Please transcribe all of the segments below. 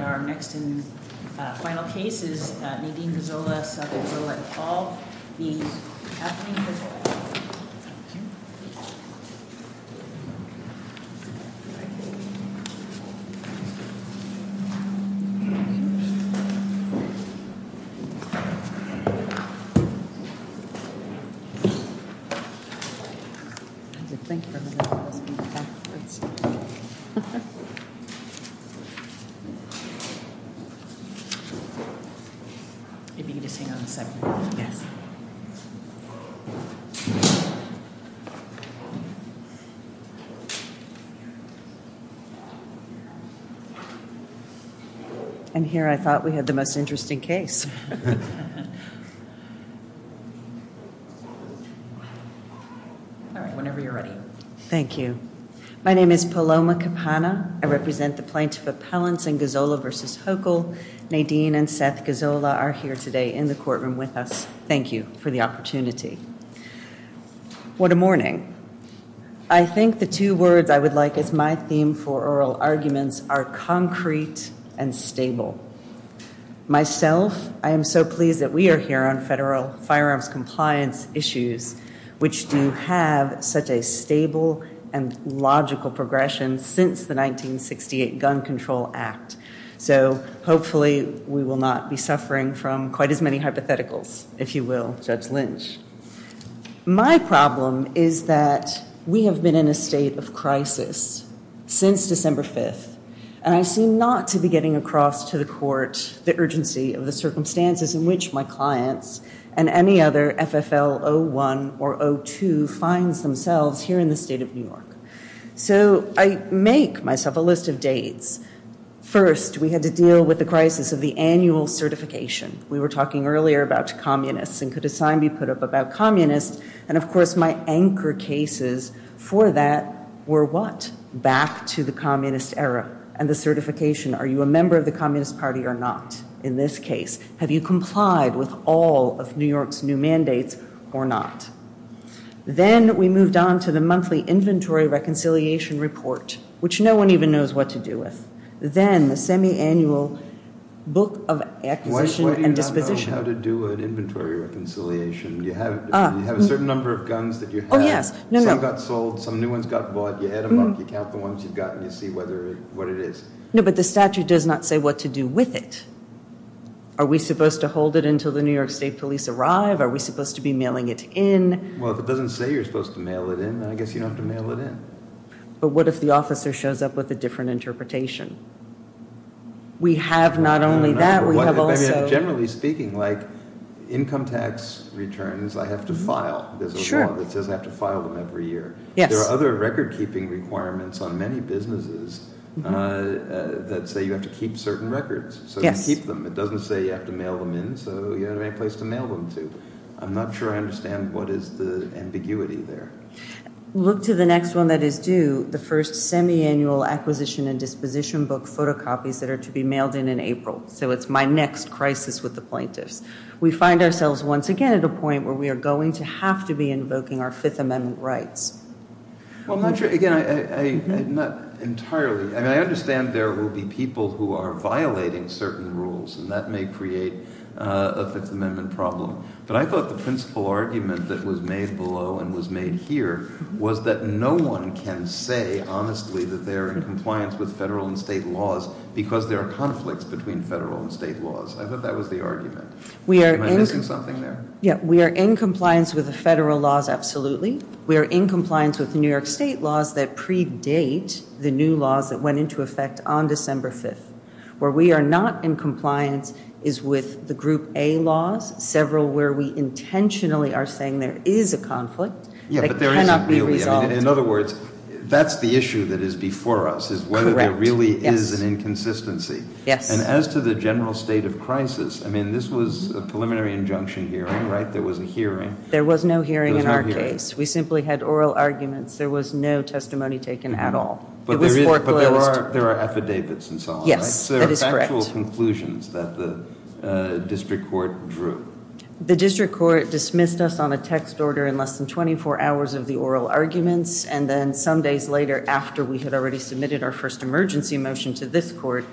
And our next and final case is Nadine Gazzola v. Paul v. Kathleen Gazzola. And here I thought we had the most interesting case. Whenever you're ready. Thank you. My name is Paloma Kapana. I represent the plaintiff appellants in Gazzola v. Hochul. Nadine and Seth Gazzola are here today in the courtroom with us. Thank you for the opportunity. What a morning. I think the two words I would like as my theme for oral arguments are concrete and stable. Myself, I am so pleased that we are here on federal firearms compliance issues, which do have such a stable and logical progression since the 1968 Gun Control Act. So hopefully we will not be suffering from quite as many hypotheticals, if you will, Judge Lynch. My problem is that we have been in a state of crisis since December 5th. And I seem not to be getting across to the court the urgency of the circumstances in which my clients and any other FFL 01 or 02 finds themselves here in the state of New York. So I make myself a list of dates. First, we had to deal with the crisis of the annual certification. We were talking earlier about communists and could a sign be put up about communists. And of course, my anchor cases for that were what? Back to the communist era and the certification. Are you a member of the Communist Party or not? In this case, have you complied with all of New York's new mandates or not? Then we moved on to the monthly inventory reconciliation report, which no one even knows what to do with. Then the semi-annual book of acquisition and disposition. Why do you not know how to do an inventory reconciliation? You have a certain number of guns that you have. Oh, yes. Some got sold. Some new ones got bought. You add them up. You count the ones you've gotten. You see what it is. No, but the statute does not say what to do with it. Are we supposed to hold it until the New York State Police arrive? Are we supposed to be mailing it in? Well, if it doesn't say you're supposed to mail it in, then I guess you don't have to mail it in. But what if the officer shows up with a different interpretation? We have not only that, we have also... Generally speaking, like income tax returns, I have to file. Sure. There's a law that says I have to file them every year. Yes. There are other record keeping requirements on many businesses that say you have to keep certain records. Yes. So you keep them. It doesn't say you have to mail them in, so you don't have any place to mail them to. I'm not sure I understand what is the ambiguity there. Look to the next one that is due, the first semiannual acquisition and disposition book photocopies that are to be mailed in in April. So it's my next crisis with the plaintiffs. We find ourselves once again at a point where we are going to have to be invoking our Fifth Amendment rights. Again, I'm not entirely... I understand there will be people who are violating certain rules, and that may create a Fifth Amendment problem. But I thought the principal argument that was made below and was made here was that no one can say honestly that they are in compliance with federal and state laws because there are conflicts between federal and state laws. I thought that was the argument. Am I missing something there? Yeah. We are in compliance with the federal laws, absolutely. We are in compliance with the New York state laws that predate the new laws that went into effect on December 5th. Where we are not in compliance is with the Group A laws, several where we intentionally are saying there is a conflict that cannot be resolved. In other words, that's the issue that is before us, is whether there really is an inconsistency. And as to the general state of crisis, I mean, this was a preliminary injunction hearing, right? There was a hearing. There was no hearing in our case. We simply had oral arguments. There was no testimony taken at all. It was foreclosed. But there are affidavits and so on, right? Yes, that is correct. There are factual conclusions that the district court drew. The district court dismissed us on a text order in less than 24 hours of the oral arguments. And then some days later, after we had already submitted our first emergency motion to this court,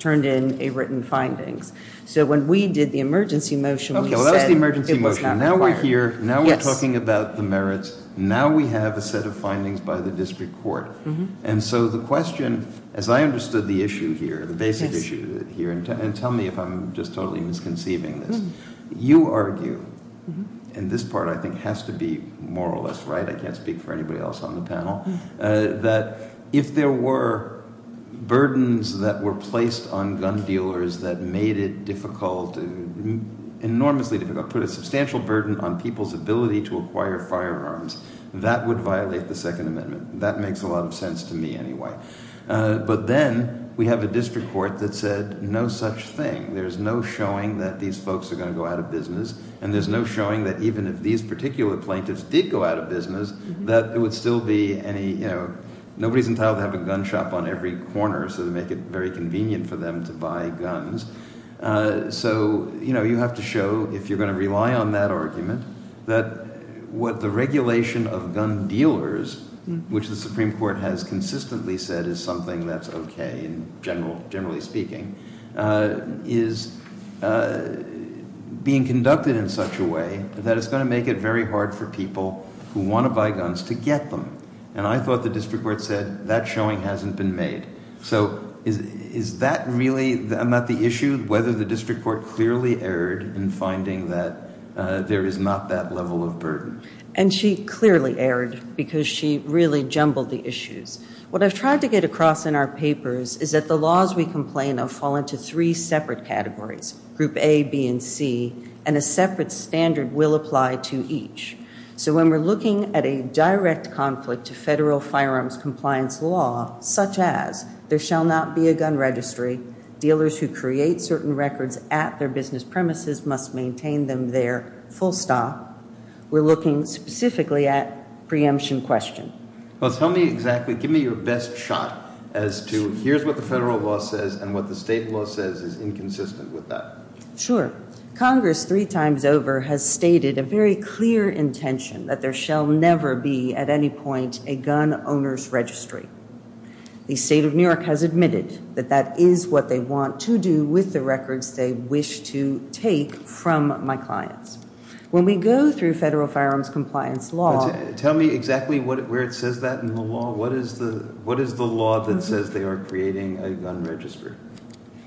turned in a written findings. So when we did the emergency motion, we said it was not required. Now we're talking about the merits. Now we have a set of findings by the district court. And so the question, as I understood the issue here, the basic issue here, and tell me if I'm just totally misconceiving this. You argue, and this part I think has to be more or less right, I can't speak for anybody else on the panel, that if there were burdens that were placed on gun dealers that made it difficult, enormously difficult, put a substantial burden on people's ability to acquire firearms, that would violate the Second Amendment. That makes a lot of sense to me anyway. But then we have a district court that said no such thing. There's no showing that these folks are going to go out of business. And there's no showing that even if these particular plaintiffs did go out of business, that it would still be any, you know, nobody's entitled to have a gun shop on every corner so they make it very convenient for them to buy guns. So, you know, you have to show, if you're going to rely on that argument, that what the regulation of gun dealers, which the Supreme Court has consistently said is something that's okay in general, generally speaking, is being conducted in such a way that it's going to make it very hard for people who want to buy guns to get them. And I thought the district court said that showing hasn't been made. So is that really not the issue, whether the district court clearly erred in finding that there is not that level of burden? And she clearly erred because she really jumbled the issues. What I've tried to get across in our papers is that the laws we complain of fall into three separate categories, Group A, B, and C, and a separate standard will apply to each. So when we're looking at a direct conflict to federal firearms compliance law, such as there shall not be a gun registry, dealers who create certain records at their business premises must maintain them there full stop, we're looking specifically at preemption question. Well, tell me exactly, give me your best shot as to here's what the federal law says and what the state law says is inconsistent with that. Sure. Congress three times over has stated a very clear intention that there shall never be at any point a gun owner's registry. The state of New York has admitted that that is what they want to do with the records they wish to take from my clients. When we go through federal firearms compliance law... Tell me exactly where it says that in the law. What is the law that says they are creating a gun register?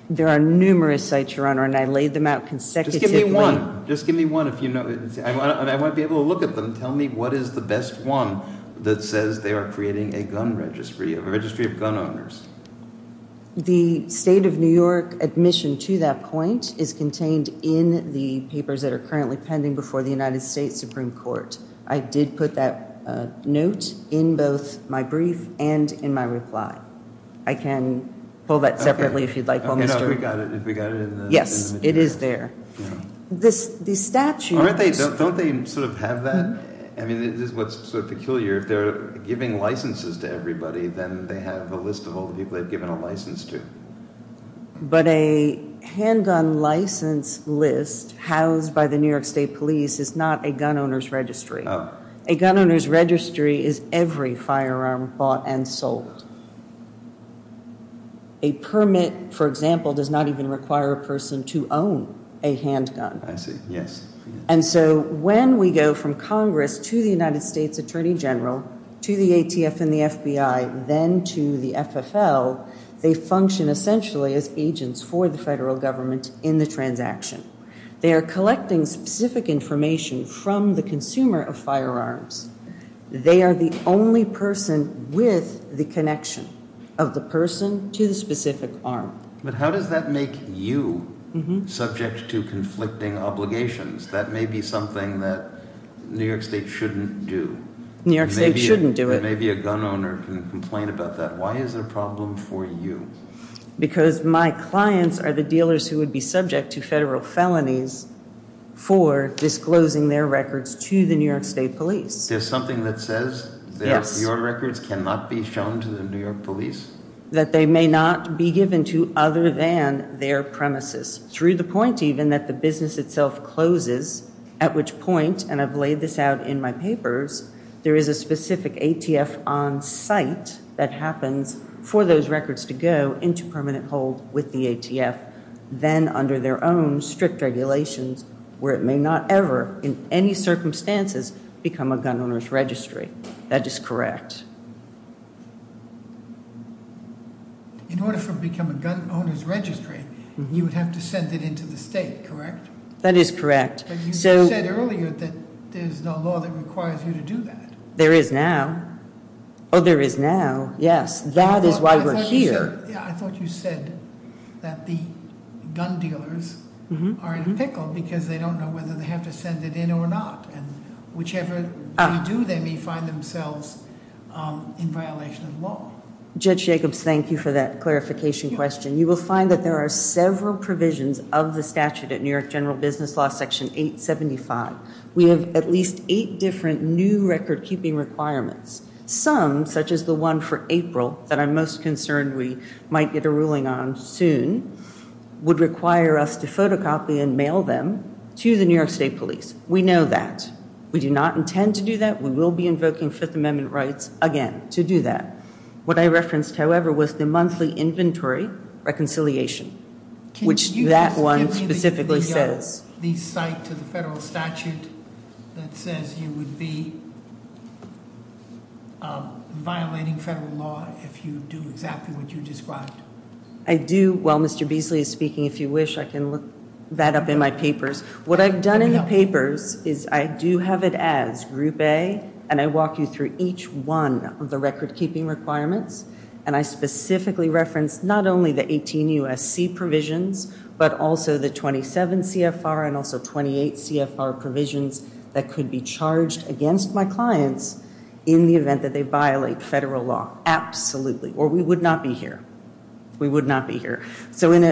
There are numerous sites, Your Honor, and I laid them out consecutively. Just give me one. Just give me one. I want to be able to look at them. Tell me what is the best one that says they are creating a gun registry, a registry of gun owners. The state of New York admission to that point is contained in the papers that are currently pending before the United States Supreme Court. I did put that note in both my brief and in my reply. I can pull that separately if you'd like. If we got it in the... Yes, it is there. These statutes... Don't they sort of have that? I mean, this is what's sort of peculiar. If they're giving licenses to everybody, then they have a list of all the people they've given a license to. But a handgun license list housed by the New York State Police is not a gun owner's registry. A gun owner's registry is every firearm bought and sold. A permit, for example, does not even require a person to own a handgun. I see. Yes. And so when we go from Congress to the United States Attorney General, to the ATF and the FBI, then to the FFL, they function essentially as agents for the federal government in the transaction. They are collecting specific information from the consumer of firearms. They are the only person with the connection of the person to the specific arm. But how does that make you subject to conflicting obligations? That may be something that New York State shouldn't do. New York State shouldn't do it. Maybe a gun owner can complain about that. Why is it a problem for you? Because my clients are the dealers who would be subject to federal felonies for disclosing their records to the New York State Police. There's something that says that your records cannot be shown to the New York Police? That they may not be given to other than their premises. Through the point even that the business itself closes, at which point, and I've laid this out in my papers, there is a specific ATF on site that happens for those records to go into permanent hold with the ATF, then under their own strict regulations, where it may not ever, in any circumstances, become a gun owner's registry. That is correct. In order for it to become a gun owner's registry, you would have to send it into the state, correct? That is correct. But you said earlier that there's no law that requires you to do that. There is now. Oh, there is now, yes. That is why we're here. I thought you said that the gun dealers are in a pickle because they don't know whether they have to send it in or not. Whichever they do, they may find themselves in violation of the law. Judge Jacobs, thank you for that clarification question. You will find that there are several provisions of the statute at New York General Business Law Section 875. We have at least eight different new record-keeping requirements. Some, such as the one for April, that I'm most concerned we might get a ruling on soon, would require us to photocopy and mail them to the New York State Police. We know that. We do not intend to do that. We will be invoking Fifth Amendment rights again to do that. What I referenced, however, was the monthly inventory reconciliation, which that one specifically says. Can you just give me the site to the federal statute that says you would be violating federal law if you do exactly what you described? I do. While Mr. Beasley is speaking, if you wish, I can look that up in my papers. What I've done in the papers is I do have it as Group A, and I walk you through each one of the record-keeping requirements. And I specifically reference not only the 18 U.S.C. provisions, but also the 27 CFR and also 28 CFR provisions that could be charged against my clients in the event that they violate federal law. Absolutely. Or we would not be here. We would not be here. In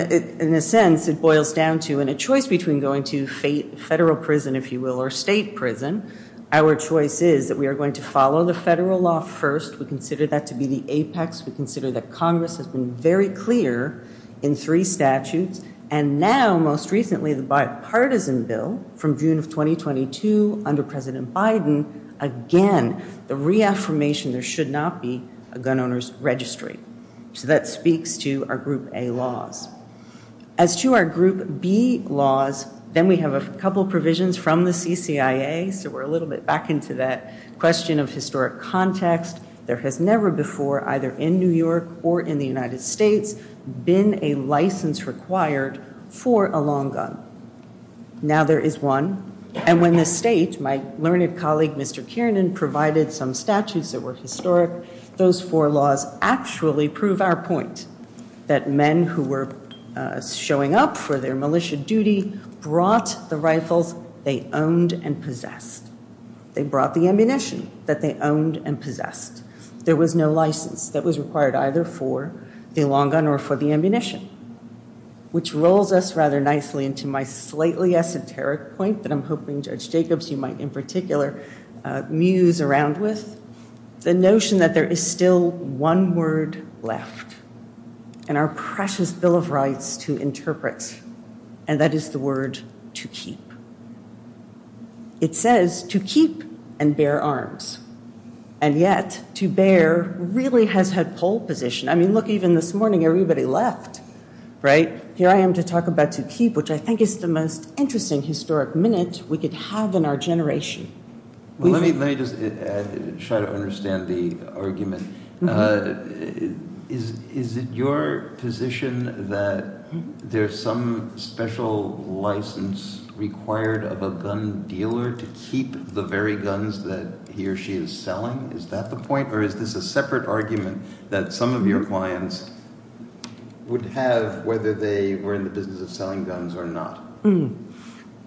a sense, it boils down to a choice between going to federal prison, if you will, or state prison. Our choice is that we are going to follow the federal law first. We consider that to be the apex. We consider that Congress has been very clear in three statutes. And now, most recently, the bipartisan bill from June of 2022 under President Biden, again, the reaffirmation there should not be a gun owner's registry. So that speaks to our Group A laws. As to our Group B laws, then we have a couple provisions from the CCIA. So we're a little bit back into that question of historic context. There has never before, either in New York or in the United States, been a license required for a long gun. Now there is one. And when the state, my learned colleague, Mr. Kiernan, provided some statutes that were historic, those four laws actually prove our point that men who were showing up for their militia duty brought the rifles they owned and possessed. They brought the ammunition that they owned and possessed. There was no license that was required either for the long gun or for the ammunition. Which rolls us rather nicely into my slightly esoteric point that I'm hoping, Judge Jacobs, you might in particular muse around with. The notion that there is still one word left in our precious Bill of Rights to interpret. And that is the word to keep. It says to keep and bear arms. And yet, to bear really has had pole position. I mean, look, even this morning, everybody left. Right? Here I am to talk about to keep, which I think is the most interesting historic minute we could have in our generation. Let me just try to understand the argument. Is it your position that there's some special license required of a gun dealer to keep the very guns that he or she is selling? Is that the point? Or is this a separate argument that some of your clients would have whether they were in the business of selling guns or not?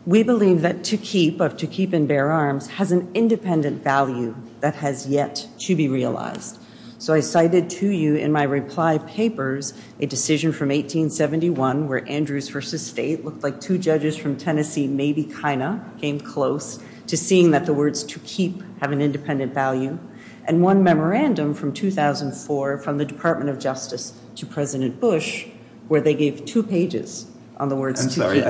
We believe that to keep, of to keep and bear arms, has an independent value that has yet to be realized. So I cited to you in my reply papers a decision from 1871 where Andrews versus State looked like two judges from Tennessee maybe kind of came close to seeing that the words to keep have an independent value. And one memorandum from 2004 from the Department of Justice to President Bush where they gave two pages on the words to keep. I'm sorry.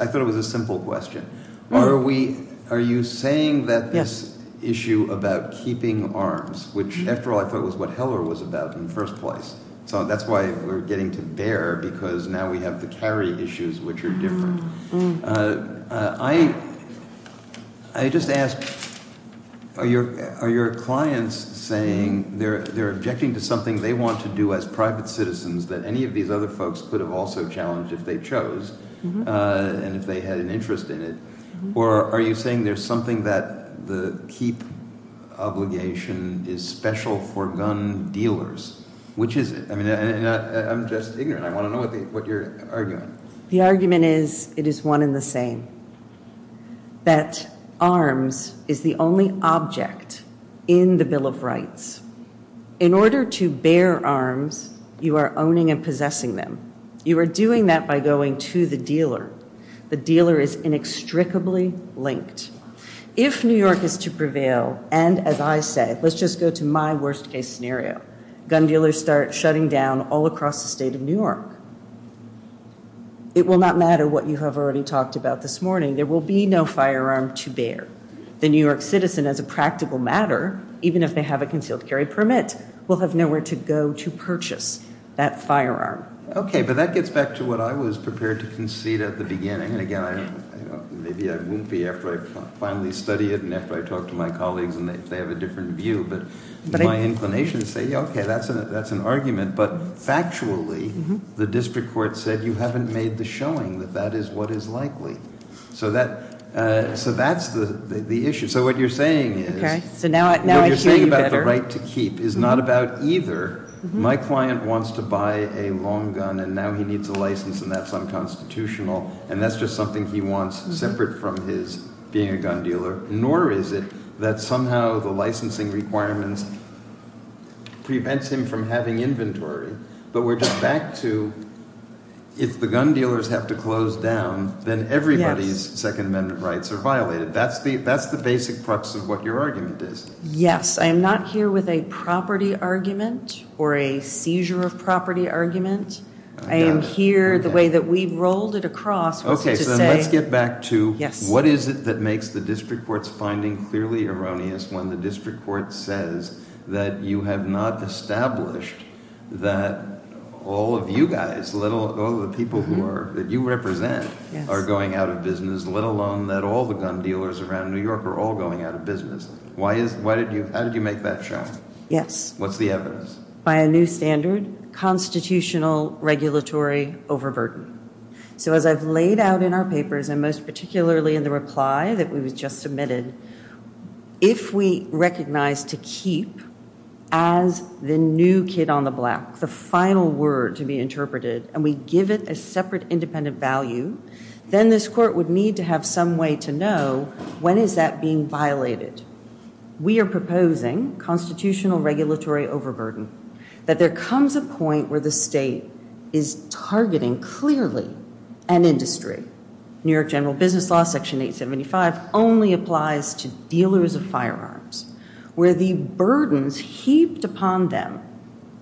I thought it was a simple question. Are you saying that this issue about keeping arms, which after all I thought was what Heller was about in the first place. So that's why we're getting to bear because now we have the carry issues, which are different. I just ask, are your clients saying they're objecting to something they want to do as private citizens that any of these other folks could have also challenged if they chose and if they had an interest in it? Or are you saying there's something that the keep obligation is special for gun dealers? Which is it? I mean, I'm just ignorant. I want to know what you're arguing. The argument is it is one in the same. That arms is the only object in the Bill of Rights. In order to bear arms, you are owning and possessing them. You are doing that by going to the dealer. The dealer is inextricably linked. If New York is to prevail, and as I say, let's just go to my worst case scenario, gun dealers start shutting down all across the state of New York. It will not matter what you have already talked about this morning. There will be no firearm to bear. The New York citizen, as a practical matter, even if they have a concealed carry permit, will have nowhere to go to purchase that firearm. Okay, but that gets back to what I was prepared to concede at the beginning. And again, maybe I won't be after I finally study it and after I talk to my colleagues and they have a different view. But my inclination is to say, okay, that's an argument. But factually, the district court said you haven't made the showing that that is what is likely. So that's the issue. So what you're saying is what you're saying about the right to keep is not about either. My client wants to buy a long gun, and now he needs a license, and that's unconstitutional. And that's just something he wants separate from his being a gun dealer. Nor is it that somehow the licensing requirements prevents him from having inventory. But we're just back to if the gun dealers have to close down, then everybody's Second Amendment rights are violated. That's the basic crux of what your argument is. Yes, I am not here with a property argument or a seizure of property argument. I am here the way that we've rolled it across. Okay, so let's get back to what is it that makes the district court's finding clearly erroneous when the district court says that you have not established that all of you guys, all the people that you represent are going out of business, let alone that all the gun dealers around New York are all going out of business. How did you make that show? Yes. What's the evidence? By a new standard, constitutional regulatory overburden. So as I've laid out in our papers, and most particularly in the reply that was just submitted, if we recognize to keep as the new kid on the block the final word to be interpreted and we give it a separate independent value, then this court would need to have some way to know when is that being violated. We are proposing constitutional regulatory overburden, that there comes a point where the state is targeting clearly an industry. New York General Business Law Section 875 only applies to dealers of firearms where the burdens heaped upon them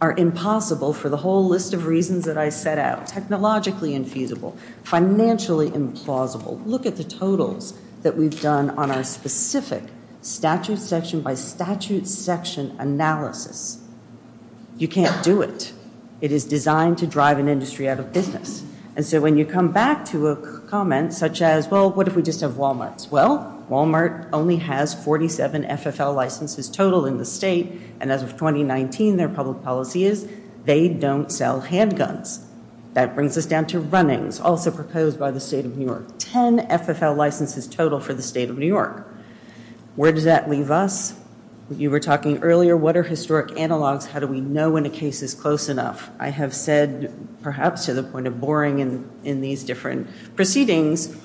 are impossible for the whole list of reasons that I set out, technologically infeasible, financially implausible. Look at the totals that we've done on our specific statute section by statute section analysis. You can't do it. It is designed to drive an industry out of business. And so when you come back to a comment such as, well, what if we just have Walmarts? Well, Walmart only has 47 FFL licenses total in the state, and as of 2019 their public policy is they don't sell handguns. That brings us down to runnings, also proposed by the state of New York. Ten FFL licenses total for the state of New York. Where does that leave us? You were talking earlier, what are historic analogs? How do we know when a case is close enough? I have said, perhaps to the point of boring in these different proceedings,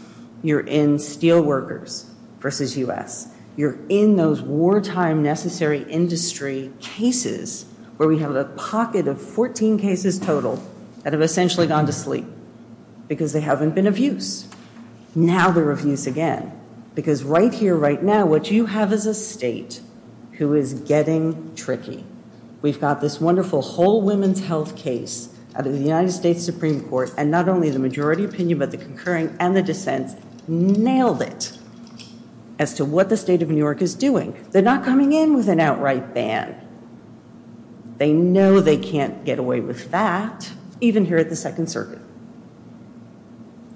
you're in steel workers versus U.S. You're in those wartime necessary industry cases where we have a pocket of 14 cases total that have essentially gone to sleep because they haven't been of use. Now they're of use again. Because right here, right now, what you have is a state who is getting tricky. We've got this wonderful whole women's health case out of the United States Supreme Court, and not only the majority opinion but the concurring and the dissents nailed it as to what the state of New York is doing. They're not coming in with an outright ban. They know they can't get away with that, even here at the Second Circuit.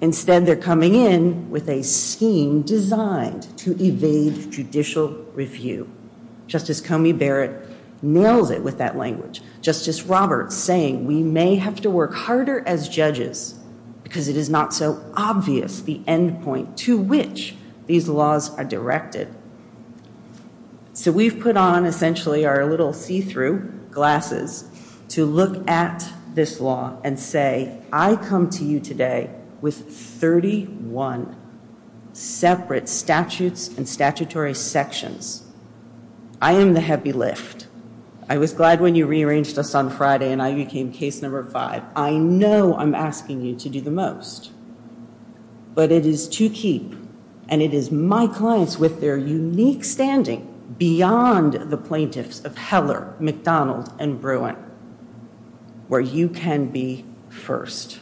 Instead, they're coming in with a scheme designed to evade judicial review. Justice Comey Barrett nails it with that language. Justice Roberts saying we may have to work harder as judges because it is not so obvious the end point to which these laws are directed. So we've put on essentially our little see-through glasses to look at this law and say, I come to you today with 31 separate statutes and statutory sections. I am the heavy lift. I was glad when you rearranged us on Friday and I became case number five. I know I'm asking you to do the most, but it is to keep, and it is my clients with their unique standing beyond the plaintiffs of Heller, McDonald, and Bruin where you can be first.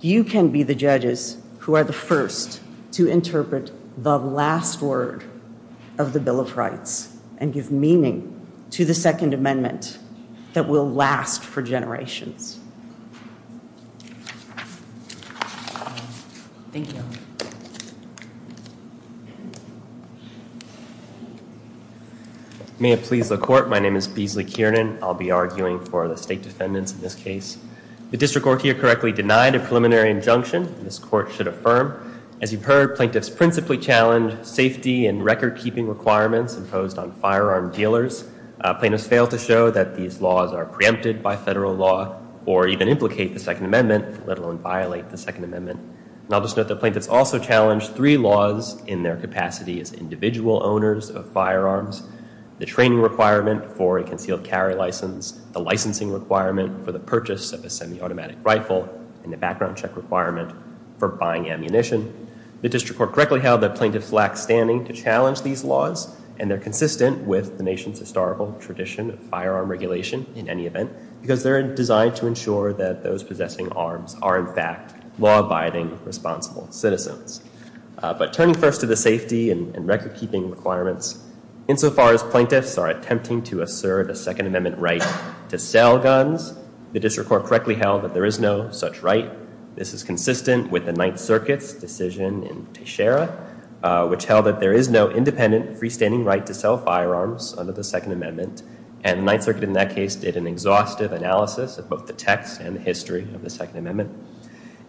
You can be the judges who are the first to interpret the last word of the Bill of Rights and give meaning to the Second Amendment that will last for generations. Thank you. May it please the court, my name is Beasley Kiernan. I'll be arguing for the state defendants in this case. The district court here correctly denied a preliminary injunction. This court should affirm. As you've heard, plaintiffs principally challenge safety and record-keeping requirements imposed on firearm dealers. Plaintiffs fail to show that these laws are preempted by federal law or even implicate the Second Amendment, let alone violate the Second Amendment. And I'll just note that plaintiffs also challenge three laws in their capacity as individual owners of firearms, the training requirement for a concealed carry license, the licensing requirement for the purchase of a semi-automatic rifle, and the background check requirement for buying ammunition. The district court correctly held that plaintiffs lack standing to challenge these laws and they're consistent with the nation's historical tradition of firearm regulation in any event because they're designed to ensure that those possessing arms are, in fact, law-abiding, responsible citizens. But turning first to the safety and record-keeping requirements, insofar as plaintiffs are attempting to assert a Second Amendment right to sell guns, the district court correctly held that there is no such right. This is consistent with the Ninth Circuit's decision in Teixeira, which held that there is no independent freestanding right to sell firearms under the Second Amendment. And the Ninth Circuit, in that case, did an exhaustive analysis of both the text and the history of the Second Amendment.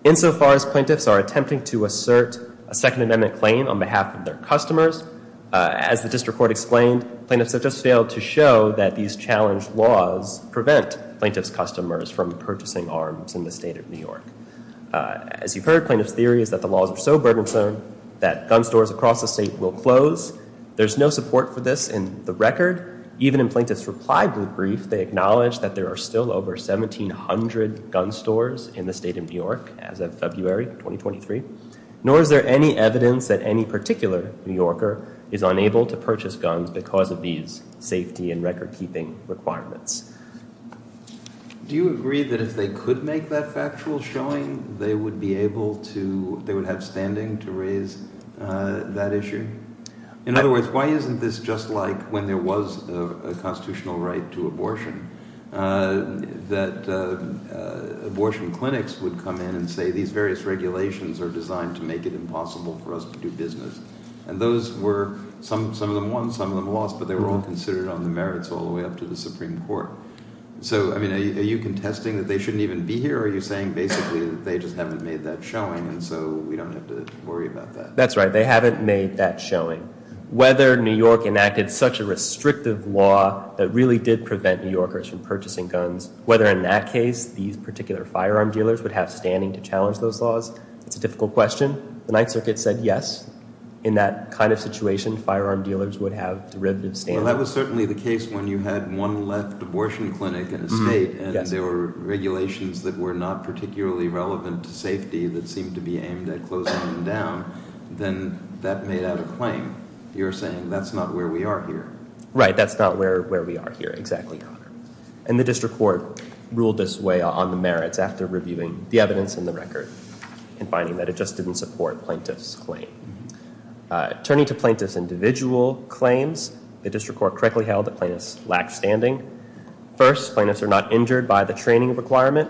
Insofar as plaintiffs are attempting to assert a Second Amendment claim on behalf of their customers, as the district court explained, in the state of New York. As you've heard, plaintiffs' theory is that the laws are so burdensome that gun stores across the state will close. There's no support for this in the record. Even in plaintiffs' reply brief, they acknowledge that there are still over 1,700 gun stores in the state of New York as of February 2023. Nor is there any evidence that any particular New Yorker is unable to purchase guns because of these safety and record-keeping requirements. Do you agree that if they could make that factual showing, they would be able to, they would have standing to raise that issue? In other words, why isn't this just like when there was a constitutional right to abortion, that abortion clinics would come in and say these various regulations are designed to make it impossible for us to do business. And those were, some of them won, some of them lost, but they were all considered on the merits all the way up to the Supreme Court. So, I mean, are you contesting that they shouldn't even be here, or are you saying basically that they just haven't made that showing and so we don't have to worry about that? That's right. They haven't made that showing. Whether New York enacted such a restrictive law that really did prevent New Yorkers from purchasing guns, whether in that case these particular firearm dealers would have standing to challenge those laws, it's a difficult question. The Ninth Circuit said yes. In that kind of situation, firearm dealers would have derivative standing. Well, that was certainly the case when you had one left abortion clinic in the state and there were regulations that were not particularly relevant to safety that seemed to be aimed at closing them down. Then that made out a claim. You're saying that's not where we are here. Right, that's not where we are here exactly, Your Honor. And the district court ruled this way on the merits after reviewing the evidence in the record and finding that it just didn't support plaintiff's claim. Turning to plaintiff's individual claims, the district court correctly held that plaintiffs lacked standing. First, plaintiffs are not injured by the training requirement.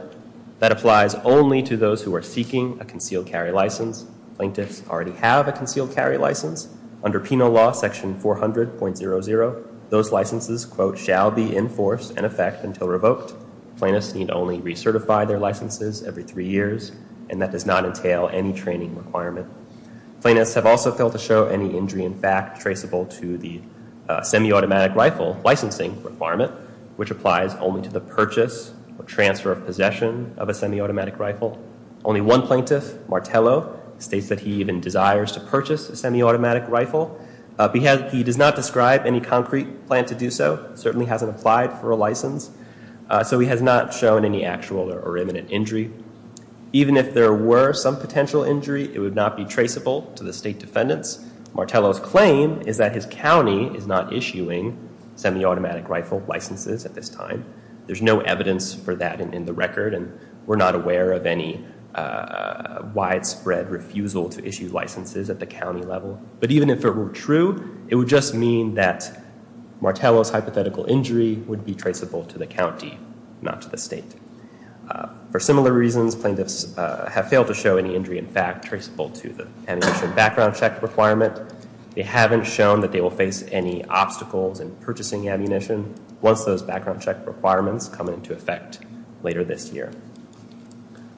That applies only to those who are seeking a concealed carry license. Plaintiffs already have a concealed carry license. Under penal law section 400.00, those licenses, quote, shall be in force and in effect until revoked. Plaintiffs need only recertify their licenses every three years, and that does not entail any training requirement. Plaintiffs have also failed to show any injury in fact traceable to the semiautomatic rifle licensing requirement, which applies only to the purchase or transfer of possession of a semiautomatic rifle. Only one plaintiff, Martello, states that he even desires to purchase a semiautomatic rifle. He does not describe any concrete plan to do so. Certainly hasn't applied for a license. So he has not shown any actual or imminent injury. Even if there were some potential injury, it would not be traceable to the state defendants. Martello's claim is that his county is not issuing semiautomatic rifle licenses at this time. There's no evidence for that in the record, and we're not aware of any widespread refusal to issue licenses at the county level. But even if it were true, it would just mean that Martello's hypothetical injury would be traceable to the county, not to the state. For similar reasons, plaintiffs have failed to show any injury in fact traceable to the ammunition background check requirement. They haven't shown that they will face any obstacles in purchasing ammunition once those background check requirements come into effect later this year.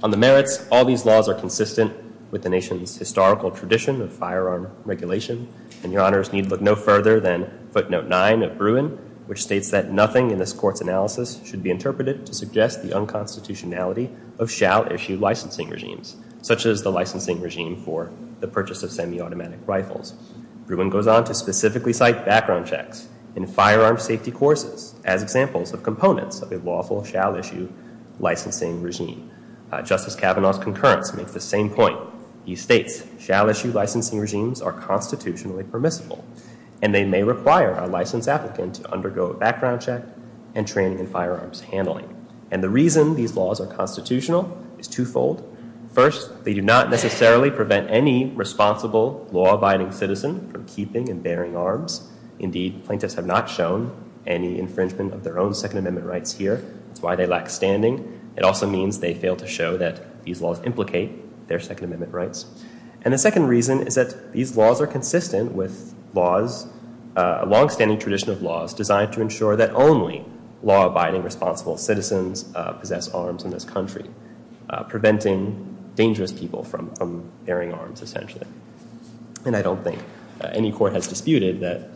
On the merits, all these laws are consistent with the nation's historical tradition of firearm regulation. And your honors need look no further than footnote nine of Bruin, which states that nothing in this court's analysis should be interpreted to suggest the unconstitutionality of shall-issue licensing regimes, such as the licensing regime for the purchase of semiautomatic rifles. Bruin goes on to specifically cite background checks in firearm safety courses as examples of components of a lawful shall-issue licensing regime. Justice Kavanaugh's concurrence makes the same point. He states, shall-issue licensing regimes are constitutionally permissible, and they may require a licensed applicant to undergo a background check and training in firearms handling. And the reason these laws are constitutional is twofold. First, they do not necessarily prevent any responsible law-abiding citizen from keeping and bearing arms. Indeed, plaintiffs have not shown any infringement of their own Second Amendment rights here. That's why they lack standing. It also means they fail to show that these laws implicate their Second Amendment rights. And the second reason is that these laws are consistent with laws, a long-standing tradition of laws designed to ensure that only law-abiding, responsible citizens possess arms in this country, preventing dangerous people from bearing arms, essentially. And I don't think any court has disputed that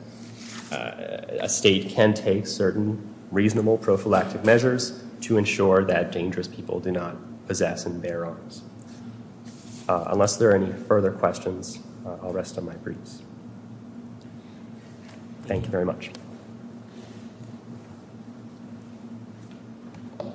a state can take certain reasonable prophylactic measures to ensure that dangerous people do not possess and bear arms. Unless there are any further questions, I'll rest on my briefs. Thank you very much. Thank you.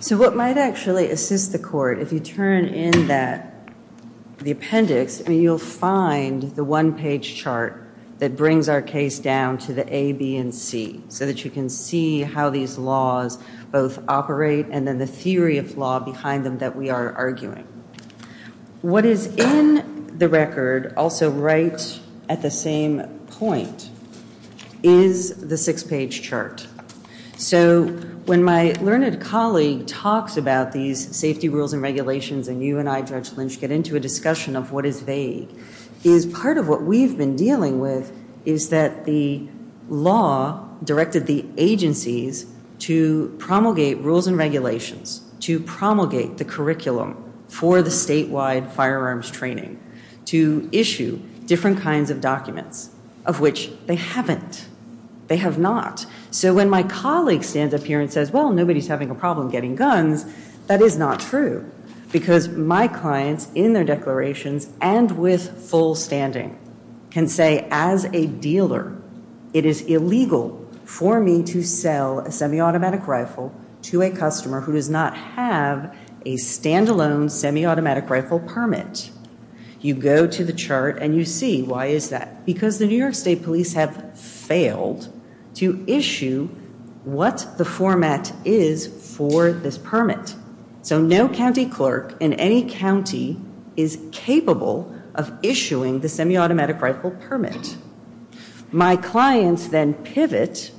So what might actually assist the court, if you turn in the appendix, you'll find the one-page chart that brings our case down to the A, B, and C, so that you can see how these laws both operate and then the theory of law behind them that we are arguing. What is in the record, also right at the same point, is the six-page chart. So when my learned colleague talks about these safety rules and regulations and you and I, Judge Lynch, get into a discussion of what is vague, is part of what we've been dealing with is that the law directed the agencies to promulgate rules and regulations, to promulgate the curriculum for the statewide firearms training, to issue different kinds of documents, of which they haven't. They have not. So when my colleague stands up here and says, well, nobody's having a problem getting guns, that is not true. Because my clients, in their declarations and with full standing, can say, as a dealer, it is illegal for me to sell a semi-automatic rifle to a customer who does not have a stand-alone semi-automatic rifle permit. You go to the chart and you see, why is that? Because the New York State Police have failed to issue what the format is for this permit. So no county clerk in any county is capable of issuing the semi-automatic rifle permit. My clients then pivot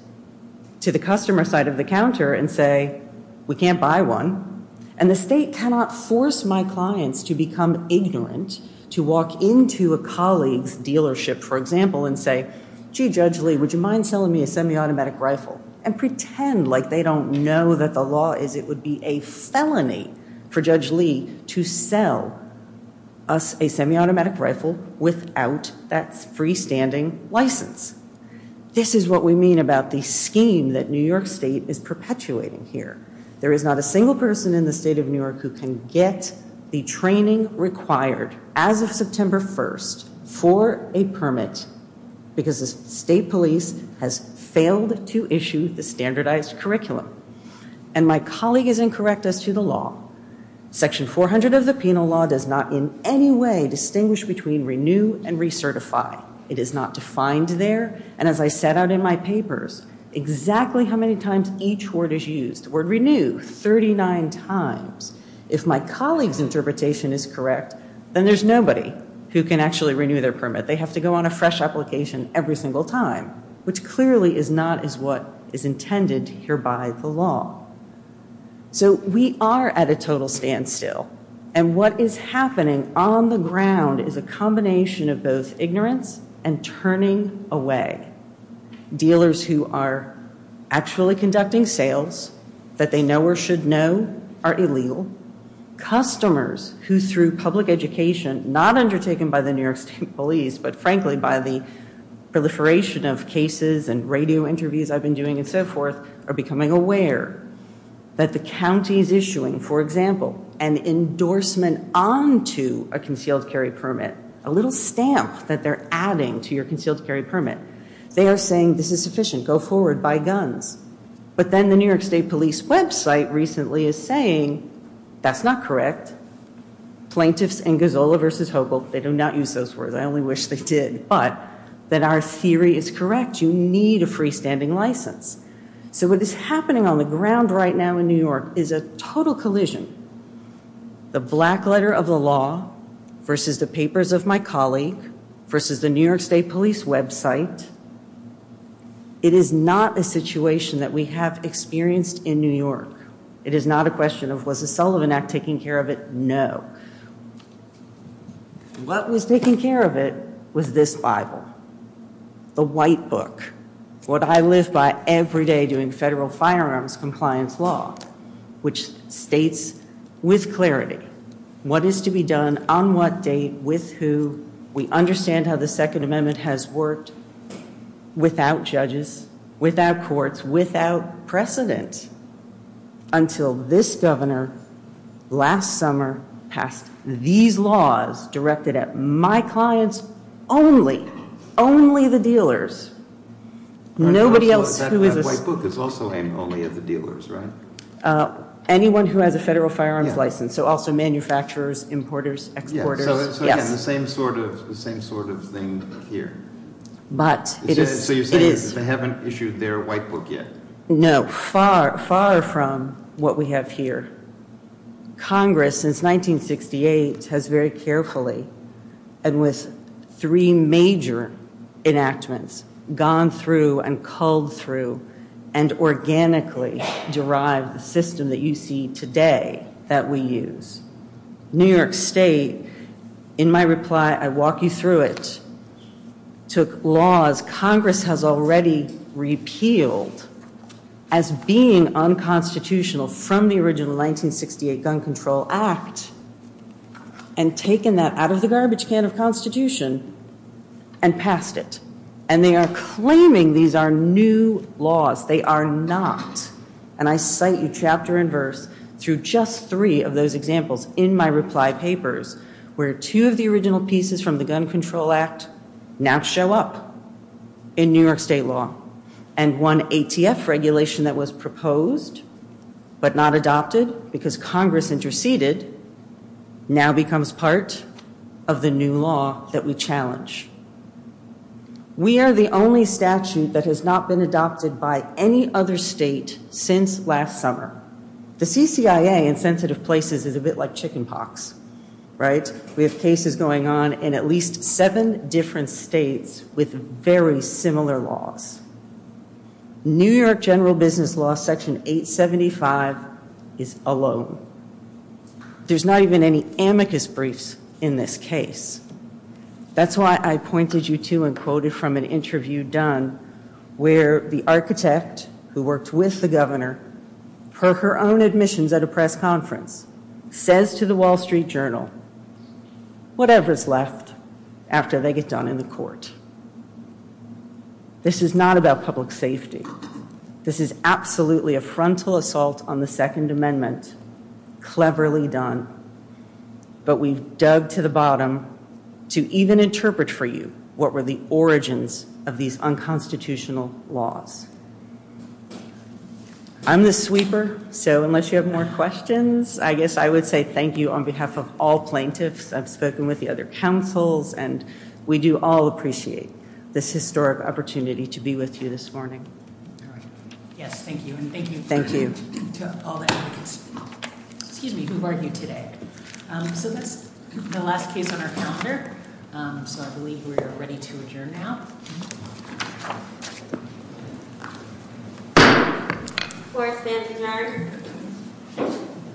to the customer side of the counter and say, we can't buy one. And the state cannot force my clients to become ignorant, to walk into a colleague's dealership, for example, and say, gee, Judge Lee, would you mind selling me a semi-automatic rifle? And pretend like they don't know that the law is it would be a felony for Judge Lee to sell us a semi-automatic rifle without that freestanding license. This is what we mean about the scheme that New York State is perpetuating here. There is not a single person in the state of New York who can get the training required as of September 1st for a permit because the state police has failed to issue the standardized curriculum. And my colleague is incorrect as to the law. Section 400 of the penal law does not in any way distinguish between renew and recertify. It is not defined there. And as I set out in my papers, exactly how many times each word is used. The word renew, 39 times. If my colleague's interpretation is correct, then there's nobody who can actually renew their permit. They have to go on a fresh application every single time, which clearly is not as what is intended here by the law. So we are at a total standstill. And what is happening on the ground is a combination of both ignorance and turning away. Dealers who are actually conducting sales that they know or should know are illegal. Customers who through public education, not undertaken by the New York State police, but frankly by the proliferation of cases and radio interviews I've been doing and so forth, are becoming aware that the county is issuing, for example, an endorsement onto a concealed carry permit. A little stamp that they're adding to your concealed carry permit. They are saying, this is sufficient, go forward, buy guns. But then the New York State police website recently is saying, that's not correct. Plaintiffs in Gazzola v. Hogel, they do not use those words, I only wish they did, but that our theory is correct. You need a freestanding license. So what is happening on the ground right now in New York is a total collision. The black letter of the law versus the papers of my colleague versus the New York State police website. It is not a situation that we have experienced in New York. It is not a question of was the Sullivan Act taking care of it? No. What was taking care of it was this Bible. The white book. What I live by every day doing federal firearms compliance law. Which states with clarity what is to be done, on what date, with who. We understand how the Second Amendment has worked. Without judges, without courts, without precedent. Until this governor last summer passed these laws directed at my clients only. Only the dealers. That white book is also aimed only at the dealers, right? Anyone who has a federal firearms license. So also manufacturers, importers, exporters. So again, the same sort of thing here. So you're saying they haven't issued their white book yet? No, far, far from what we have here. Congress since 1968 has very carefully and with three major enactments. Gone through and culled through and organically derived the system that you see today that we use. New York State, in my reply, I walk you through it. Congress has already repealed as being unconstitutional from the original 1968 Gun Control Act. And taken that out of the garbage can of Constitution and passed it. And they are claiming these are new laws. They are not. And I cite you chapter and verse through just three of those examples in my reply papers. Where two of the original pieces from the Gun Control Act now show up in New York State law. And one ATF regulation that was proposed but not adopted because Congress interceded now becomes part of the new law that we challenge. We are the only statute that has not been adopted by any other state since last summer. The CCIA in sensitive places is a bit like chicken pox. Right? We have cases going on in at least seven different states with very similar laws. New York general business law section 875 is alone. There's not even any amicus briefs in this case. That's why I pointed you to and quoted from an interview done where the architect who worked with the governor, per her own admissions at a press conference, says to the Wall Street Journal, whatever is left after they get done in the court. This is not about public safety. This is absolutely a frontal assault on the Second Amendment. Cleverly done. But we dug to the bottom to even interpret for you what were the origins of these unconstitutional laws. I'm the sweeper. So unless you have more questions, I guess I would say thank you on behalf of all plaintiffs. I've spoken with the other councils, and we do all appreciate this historic opportunity to be with you this morning. Yes, thank you. And thank you. Thank you. Excuse me. Who are you today? So that's the last case on our calendar. So I believe we're ready to adjourn now.